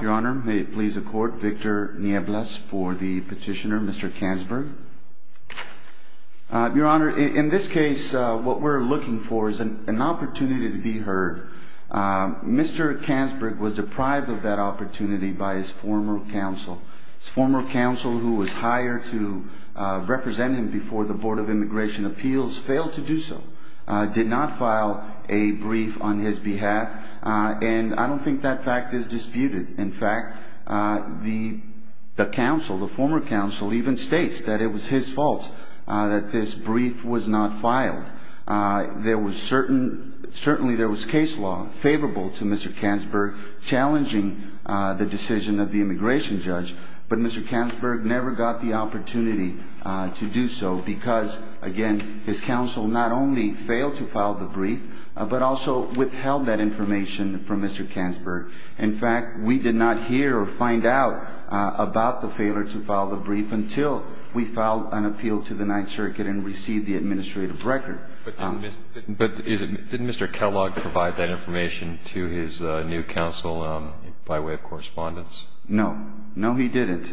Your Honor, may it please the Court, Victor Niebles for the petitioner, Mr. Kanzburg. Your Honor, in this case, what we're looking for is an opportunity to be heard. Mr. Kanzburg was deprived of that opportunity by his former counsel. His former counsel, who was hired to represent him before the Board of Immigration Appeals, failed to do so. He did not file a brief on his behalf, and I don't think that fact is disputed. In fact, the counsel, the former counsel, even states that it was his fault that this brief was not filed. Certainly, there was case law favorable to Mr. Kanzburg challenging the decision of the immigration judge, but Mr. Kanzburg never got the opportunity to do so because, again, his counsel not only failed to file the brief, but also withheld that information from Mr. Kanzburg. In fact, we did not hear or find out about the failure to file the brief until we filed an appeal to the Ninth Circuit and received the administrative record. But didn't Mr. Kellogg provide that information to his new counsel by way of correspondence? No. No, he didn't.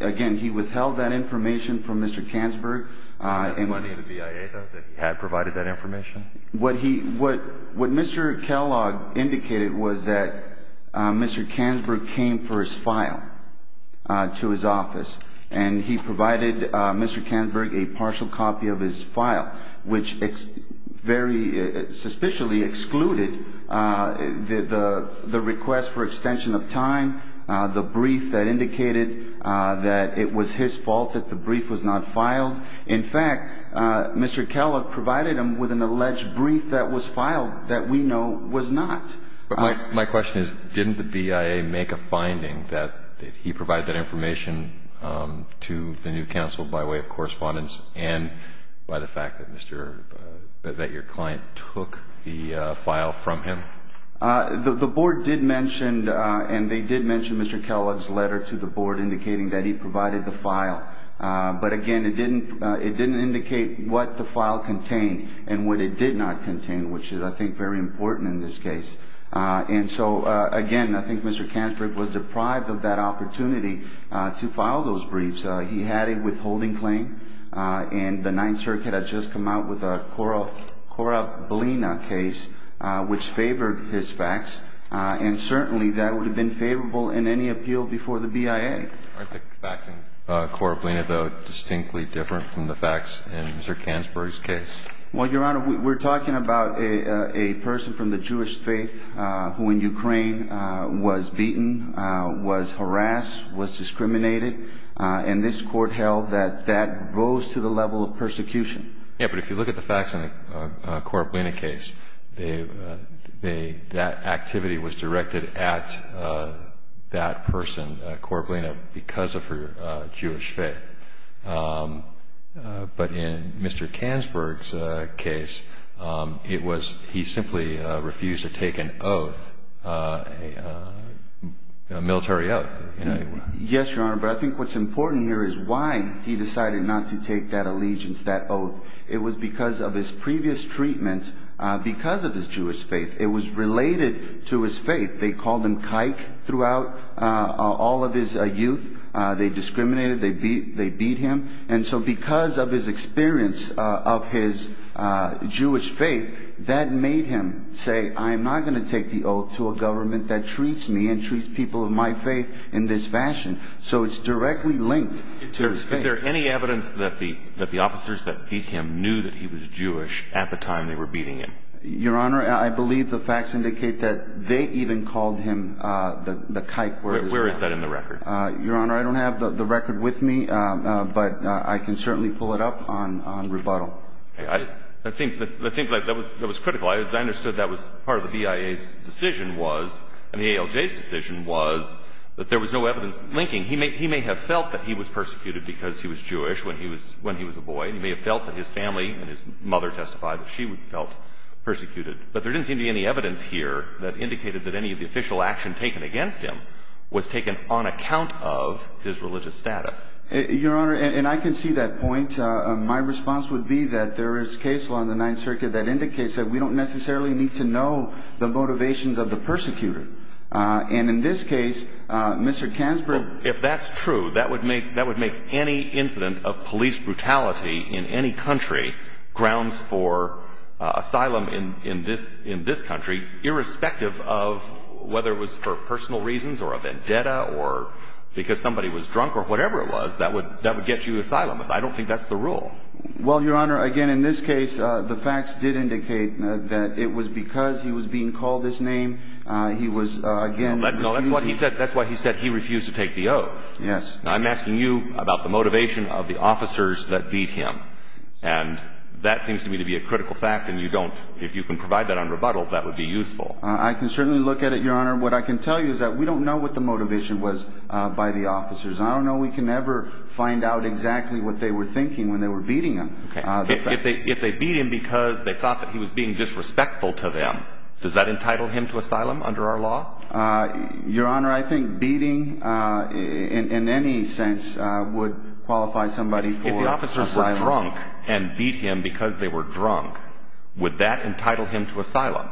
Again, he withheld that information from Mr. Kanzburg. Did he have money in the BIA, though, that he had provided that information? What Mr. Kellogg indicated was that Mr. Kanzburg came for his file to his office, and he provided Mr. Kanzburg a partial copy of his file, which very suspiciously excluded the request for extension of time, the brief that indicated that it was his fault that the brief was not filed. In fact, Mr. Kellogg provided him with an alleged brief that was filed that we know was not. My question is, didn't the BIA make a finding that he provided that information to the new counsel by way of correspondence and by the fact that your client took the file from him? The board did mention, and they did mention Mr. Kellogg's letter to the board indicating that he provided the file. But, again, it didn't indicate what the file contained and what it did not contain, which is, I think, very important in this case. And so, again, I think Mr. Kanzburg was deprived of that opportunity to file those briefs. He had a withholding claim, and the Ninth Circuit had just come out with a Korablina case, which favored his facts, and certainly that would have been favorable in any appeal before the BIA. Aren't the facts in Korablina, though, distinctly different from the facts in Mr. Kanzburg's case? Well, Your Honor, we're talking about a person from the Jewish faith who, in Ukraine, was beaten, was harassed, was discriminated, and this Court held that that goes to the level of persecution. Yes, but if you look at the facts in the Korablina case, that activity was directed at that person, Korablina, because of her Jewish faith. But in Mr. Kanzburg's case, it was he simply refused to take an oath, a military oath. Yes, Your Honor, but I think what's important here is why he decided not to take that allegiance, that oath. It was because of his previous treatment because of his Jewish faith. It was related to his faith. They called him kike throughout all of his youth. They discriminated. They beat him. And so because of his experience of his Jewish faith, that made him say, I'm not going to take the oath to a government that treats me and treats people of my faith in this fashion. So it's directly linked to his faith. Is there any evidence that the officers that beat him knew that he was Jewish at the time they were beating him? Your Honor, I believe the facts indicate that they even called him the kike. Where is that in the record? Your Honor, I don't have the record with me, but I can certainly pull it up on rebuttal. That seems like that was critical. I understood that was part of the BIA's decision was, and the ALJ's decision was, that there was no evidence linking. He may have felt that he was persecuted because he was Jewish when he was a boy. He may have felt that his family and his mother testified that she felt persecuted. But there didn't seem to be any evidence here that indicated that any of the official action taken against him was taken on account of his religious status. Your Honor, and I can see that point. My response would be that there is case law in the Ninth Circuit that indicates that we don't necessarily need to know the motivations of the persecutor. And in this case, Mr. Kansberg... Well, if that's true, that would make any incident of police brutality in any country grounds for asylum in this country, irrespective of whether it was for personal reasons or a vendetta or because somebody was drunk or whatever it was, that would get you asylum. I don't think that's the rule. Well, Your Honor, again, in this case, the facts did indicate that it was because he was being called this name, he was, again... No, that's why he said he refused to take the oath. Yes. I'm asking you about the motivation of the officers that beat him. And that seems to me to be a critical fact, and if you can provide that on rebuttal, that would be useful. I can certainly look at it, Your Honor. What I can tell you is that we don't know what the motivation was by the officers. I don't know we can ever find out exactly what they were thinking when they were beating him. Okay. If they beat him because they thought that he was being disrespectful to them, does that entitle him to asylum under our law? Your Honor, I think beating, in any sense, would qualify somebody for asylum. If the officers were drunk and beat him because they were drunk, would that entitle him to asylum?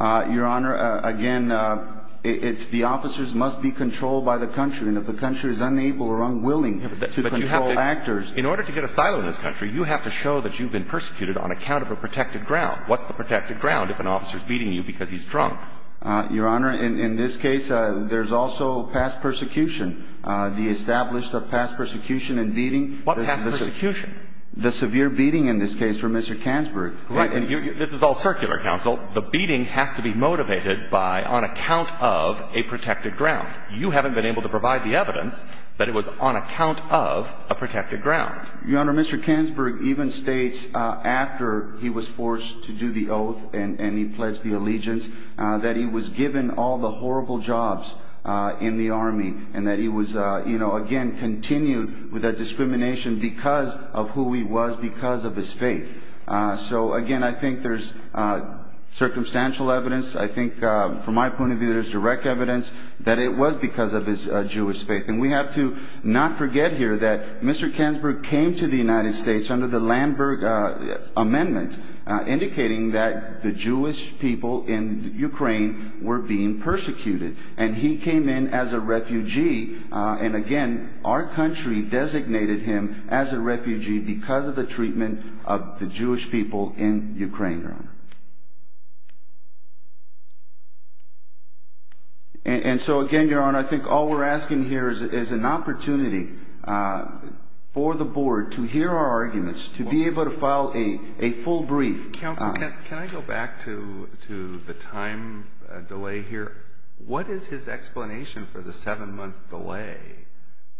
Your Honor, again, it's the officers must be controlled by the country, and if the country is unable or unwilling to control actors... In order to get asylum in this country, you have to show that you've been persecuted on account of a protected ground. What's the protected ground if an officer is beating you because he's drunk? Your Honor, in this case, there's also past persecution. The established of past persecution and beating... What past persecution? The severe beating, in this case, from Mr. Kansberg. Right. And this is all circular, counsel. The beating has to be motivated by on account of a protected ground. You haven't been able to provide the evidence that it was on account of a protected ground. Your Honor, Mr. Kansberg even states, after he was forced to do the oath and he pledged the allegiance, that he was given all the horrible jobs in the army and that he was, you know, again, continued with that discrimination because of who he was, because of his faith. So, again, I think there's circumstantial evidence. I think, from my point of view, there's direct evidence that it was because of his Jewish faith. And we have to not forget here that Mr. Kansberg came to the United States under the Landberg Amendment, indicating that the Jewish people in Ukraine were being persecuted, and he came in as a refugee. And, again, our country designated him as a refugee because of the treatment of the Jewish people in Ukraine, Your Honor. And so, again, Your Honor, I think all we're asking here is an opportunity for the board to hear our arguments, to be able to file a full brief. Counsel, can I go back to the time delay here? What is his explanation for the seven-month delay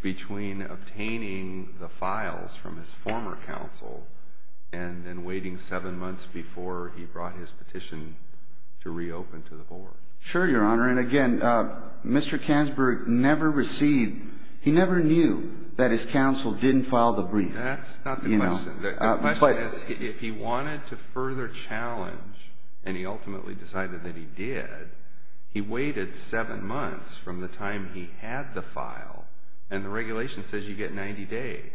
between obtaining the files from his former counsel and then waiting seven months before he brought his petition to reopen to the board? Sure, Your Honor. And, again, Mr. Kansberg never received – he never knew that his counsel didn't file the brief. That's not the question. The question is, if he wanted to further challenge, and he ultimately decided that he did, he waited seven months from the time he had the file, and the regulation says you get 90 days.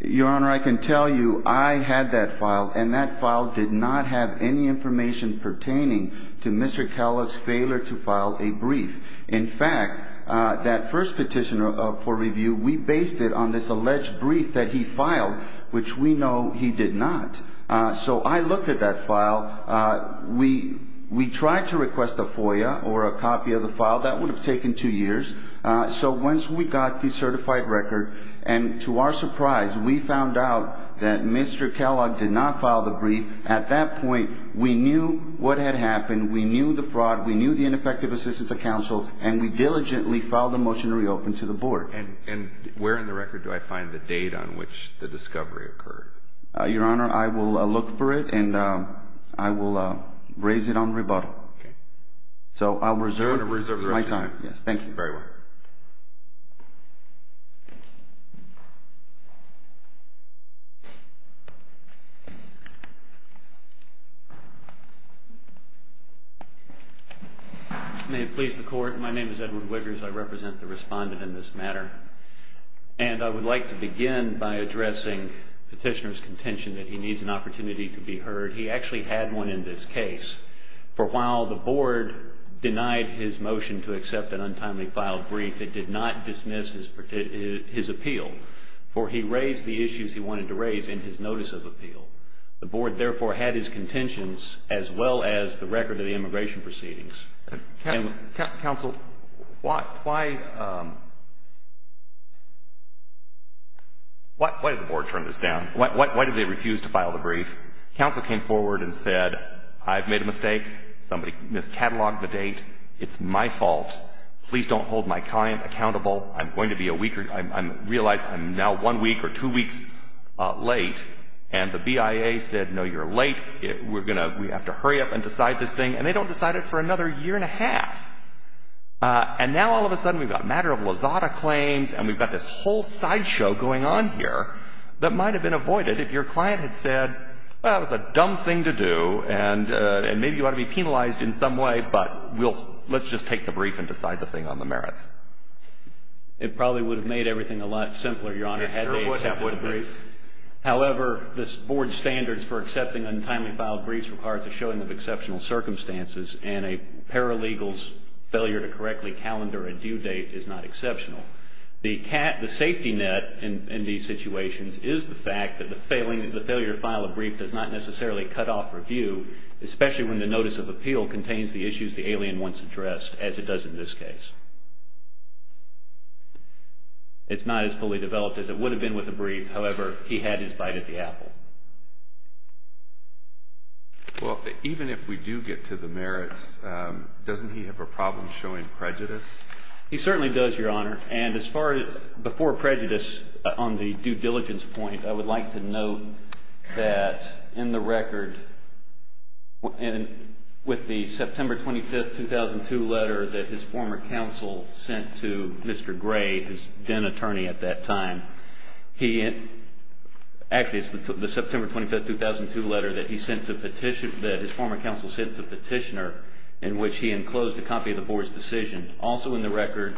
Your Honor, I can tell you I had that file, and that file did not have any information pertaining to Mr. Kellogg's failure to file a brief. In fact, that first petition for review, we based it on this alleged brief that he filed, which we know he did not. So I looked at that file. We tried to request a FOIA or a copy of the file. That would have taken two years. So once we got the certified record, and to our surprise, we found out that Mr. Kellogg did not file the brief, we knew what had happened, we knew the fraud, we knew the ineffective assistance of counsel, and we diligently filed a motion to reopen to the board. And where in the record do I find the date on which the discovery occurred? Your Honor, I will look for it, and I will raise it on rebuttal. So I'll reserve my time. You're going to reserve the rest of your time. Yes. Thank you. Very well. May it please the Court. My name is Edward Wiggers. I represent the respondent in this matter. And I would like to begin by addressing Petitioner's contention that he needs an opportunity to be heard. He actually had one in this case. For while the board denied his motion to accept an untimely filed brief, it did not dismiss his appeal, for he raised the issues he wanted to raise in his notice of appeal. The board, therefore, had his contentions as well as the record of the immigration proceedings. Counsel, why did the board turn this down? Why did they refuse to file the brief? Counsel came forward and said, I've made a mistake. Somebody mis-catalogued the date. It's my fault. Please don't hold my client accountable. I realize I'm now one week or two weeks late. And the BIA said, no, you're late. We're going to have to hurry up and decide this thing. And they don't decide it for another year and a half. And now all of a sudden we've got matter-of-Lazada claims and we've got this whole sideshow going on here that might have been avoided if your client had said, well, that was a dumb thing to do, and maybe you ought to be penalized in some way, but let's just take the brief and decide the thing on the merits. It probably would have made everything a lot simpler, Your Honor, had they accepted the brief. However, this board's standards for accepting untimely filed briefs requires a showing of exceptional circumstances, and a paralegal's failure to correctly calendar a due date is not exceptional. The safety net in these situations is the fact that the failure to file a brief does not necessarily cut off review, especially when the notice of appeal contains the issues the alien wants addressed, as it does in this case. It's not as fully developed as it would have been with the brief. However, he had his bite at the apple. Well, even if we do get to the merits, doesn't he have a problem showing prejudice? He certainly does, Your Honor. And as far as before prejudice on the due diligence point, I would like to note that in the record, and with the September 25, 2002 letter that his former counsel sent to Mr. Gray, his then-attorney at that time, actually, it's the September 25, 2002 letter that his former counsel sent to Petitioner, in which he enclosed a copy of the board's decision. Also in the record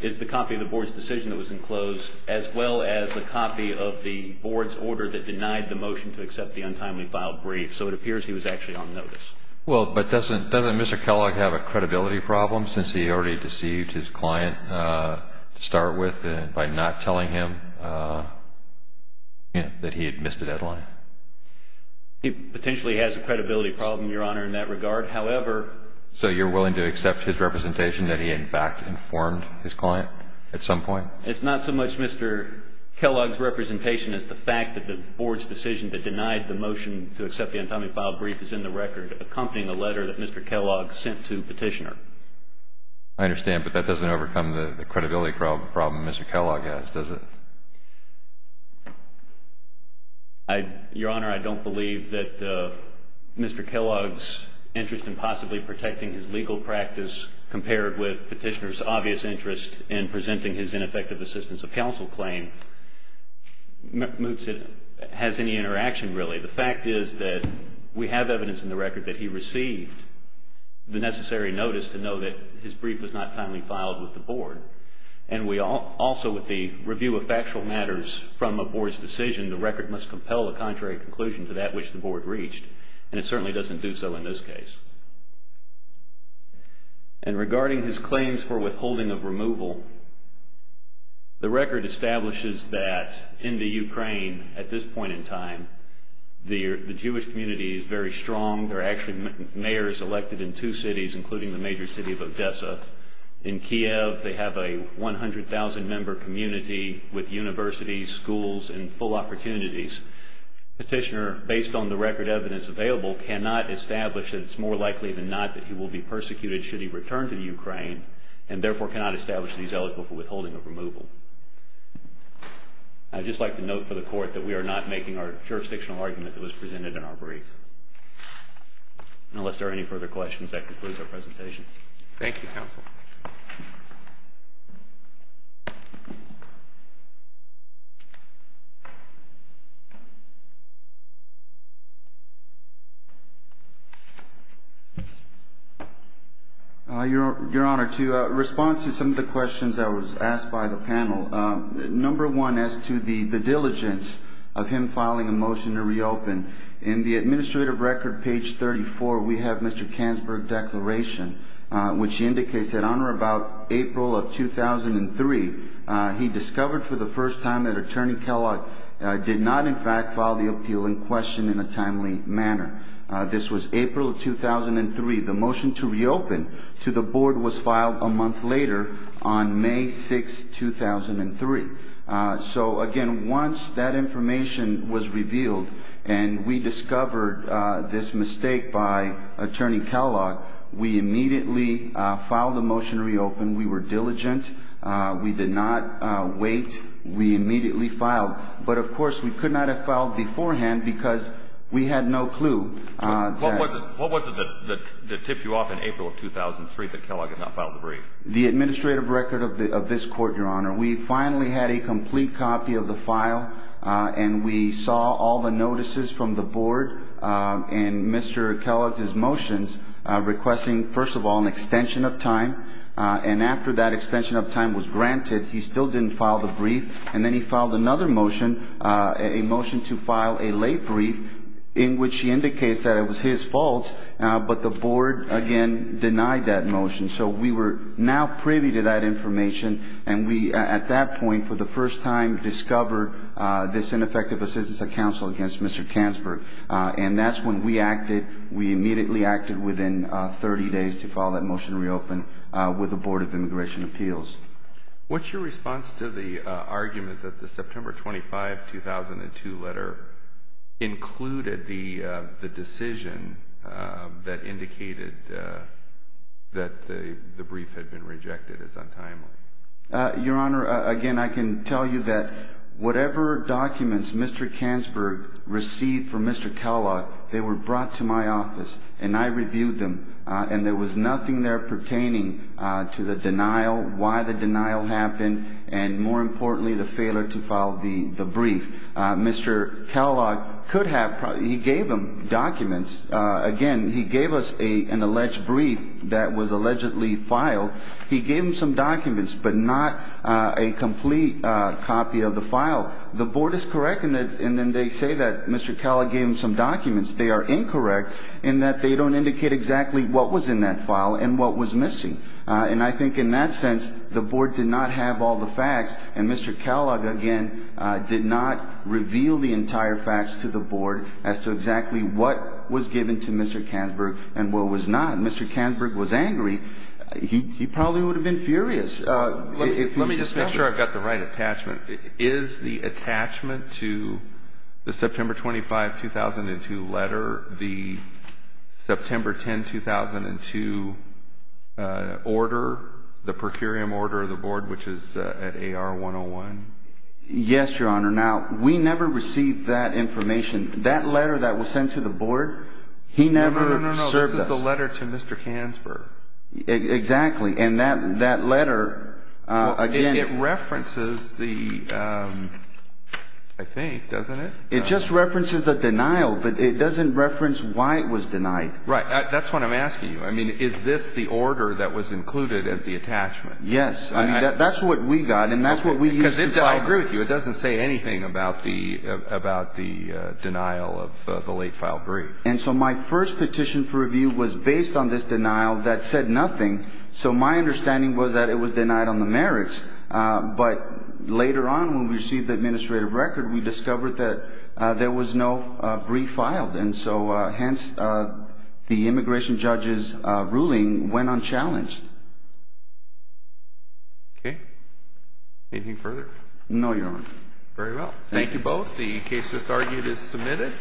is the copy of the board's decision that was enclosed, as well as a copy of the board's order that denied the motion to accept the untimely filed brief. So it appears he was actually on notice. Well, but doesn't Mr. Kellogg have a credibility problem, since he already deceived his client to start with by not telling him that he had missed a deadline? He potentially has a credibility problem, Your Honor, in that regard. However, So you're willing to accept his representation that he, in fact, informed his client at some point? It's not so much Mr. Kellogg's representation as the fact that the board's decision that denied the motion to accept the untimely filed brief is in the record, accompanying a letter that Mr. Kellogg sent to Petitioner. I understand, but that doesn't overcome the credibility problem Mr. Kellogg has, does it? Your Honor, I don't believe that Mr. Kellogg's interest in possibly protecting his legal practice compared with Petitioner's obvious interest in presenting his ineffective assistance of counsel claim has any interaction, really. The fact is that we have evidence in the record that he received the necessary notice to know that his brief was not timely filed with the board. And we also, with the review of factual matters from a board's decision, the record must compel a contrary conclusion to that which the board reached. And it certainly doesn't do so in this case. And regarding his claims for withholding of removal, the record establishes that in the Ukraine, at this point in time, the Jewish community is very strong. There are actually mayors elected in two cities, including the major city of Odessa. In Kiev, they have a 100,000-member community with universities, schools, and full opportunities. Petitioner, based on the record evidence available, cannot establish that it's more likely than not that he will be persecuted should he return to the Ukraine, and therefore cannot establish that he's eligible for withholding of removal. I'd just like to note for the Court that we are not making our jurisdictional argument that was presented in our brief. Unless there are any further questions, that concludes our presentation. Thank you, Counsel. Your Honor, to respond to some of the questions that were asked by the panel, number one as to the diligence of him filing a motion to reopen, in the administrative record, page 34, we have Mr. Kansberg's declaration, which indicates that, Honor, about April of 2003, he discovered for the first time that Attorney Kellogg did not, in fact, file the appeal in question in a timely manner. This was April of 2003. The motion to reopen to the Board was filed a month later on May 6, 2003. So, again, once that information was revealed and we discovered this mistake by Attorney Kellogg, we immediately filed the motion to reopen. We were diligent. We did not wait. We immediately filed. But, of course, we could not have filed beforehand because we had no clue. What was it that tipped you off in April of 2003 that Kellogg had not filed the brief? The administrative record of this Court, Your Honor. We finally had a complete copy of the file, and we saw all the notices from the Board and Mr. Kellogg's motions requesting, first of all, an extension of time. And after that extension of time was granted, he still didn't file the brief. And then he filed another motion, a motion to file a late brief in which he indicates that it was his fault, but the Board, again, denied that motion. So we were now privy to that information, and we at that point for the first time discovered this ineffective assistance of counsel against Mr. Kanzberg. And that's when we acted. We immediately acted within 30 days to file that motion to reopen with the Board of Immigration Appeals. What's your response to the argument that the September 25, 2002 letter included the decision that indicated that the brief had been rejected as untimely? Your Honor, again, I can tell you that whatever documents Mr. Kanzberg received from Mr. Kellogg, they were brought to my office, and I reviewed them, and there was nothing there pertaining to the denial, why the denial happened, and more importantly, the failure to file the brief. Mr. Kellogg could have – he gave them documents. Again, he gave us an alleged brief that was allegedly filed. He gave them some documents, but not a complete copy of the file. The Board is correct in that – and then they say that Mr. Kellogg gave them some documents. They are incorrect in that they don't indicate exactly what was in that file and what was missing. And I think in that sense, the Board did not have all the facts, and Mr. Kellogg, again, did not reveal the entire facts to the Board as to exactly what was given to Mr. Kanzberg and what was not. If Mr. Kanzberg was angry, he probably would have been furious. Let me just make sure I've got the right attachment. Is the attachment to the September 25, 2002 letter, the September 10, 2002 order, the per curiam order of the Board, which is at AR 101? Yes, Your Honor. Now, we never received that information. That letter that was sent to the Board, he never served us. No, no, no. This is the letter to Mr. Kanzberg. Exactly. And that letter, again – It references the – I think, doesn't it? It just references a denial, but it doesn't reference why it was denied. Right. That's what I'm asking you. I mean, is this the order that was included as the attachment? Yes. I mean, that's what we got, and that's what we used to – Because I agree with you. It doesn't say anything about the denial of the late-filed brief. And so my first petition for review was based on this denial that said nothing. So my understanding was that it was denied on the merits. But later on, when we received the administrative record, we discovered that there was no brief filed. And so, hence, the immigration judge's ruling went unchallenged. Okay. Anything further? No, Your Honor. Very well. Thank you both. The case just argued is submitted.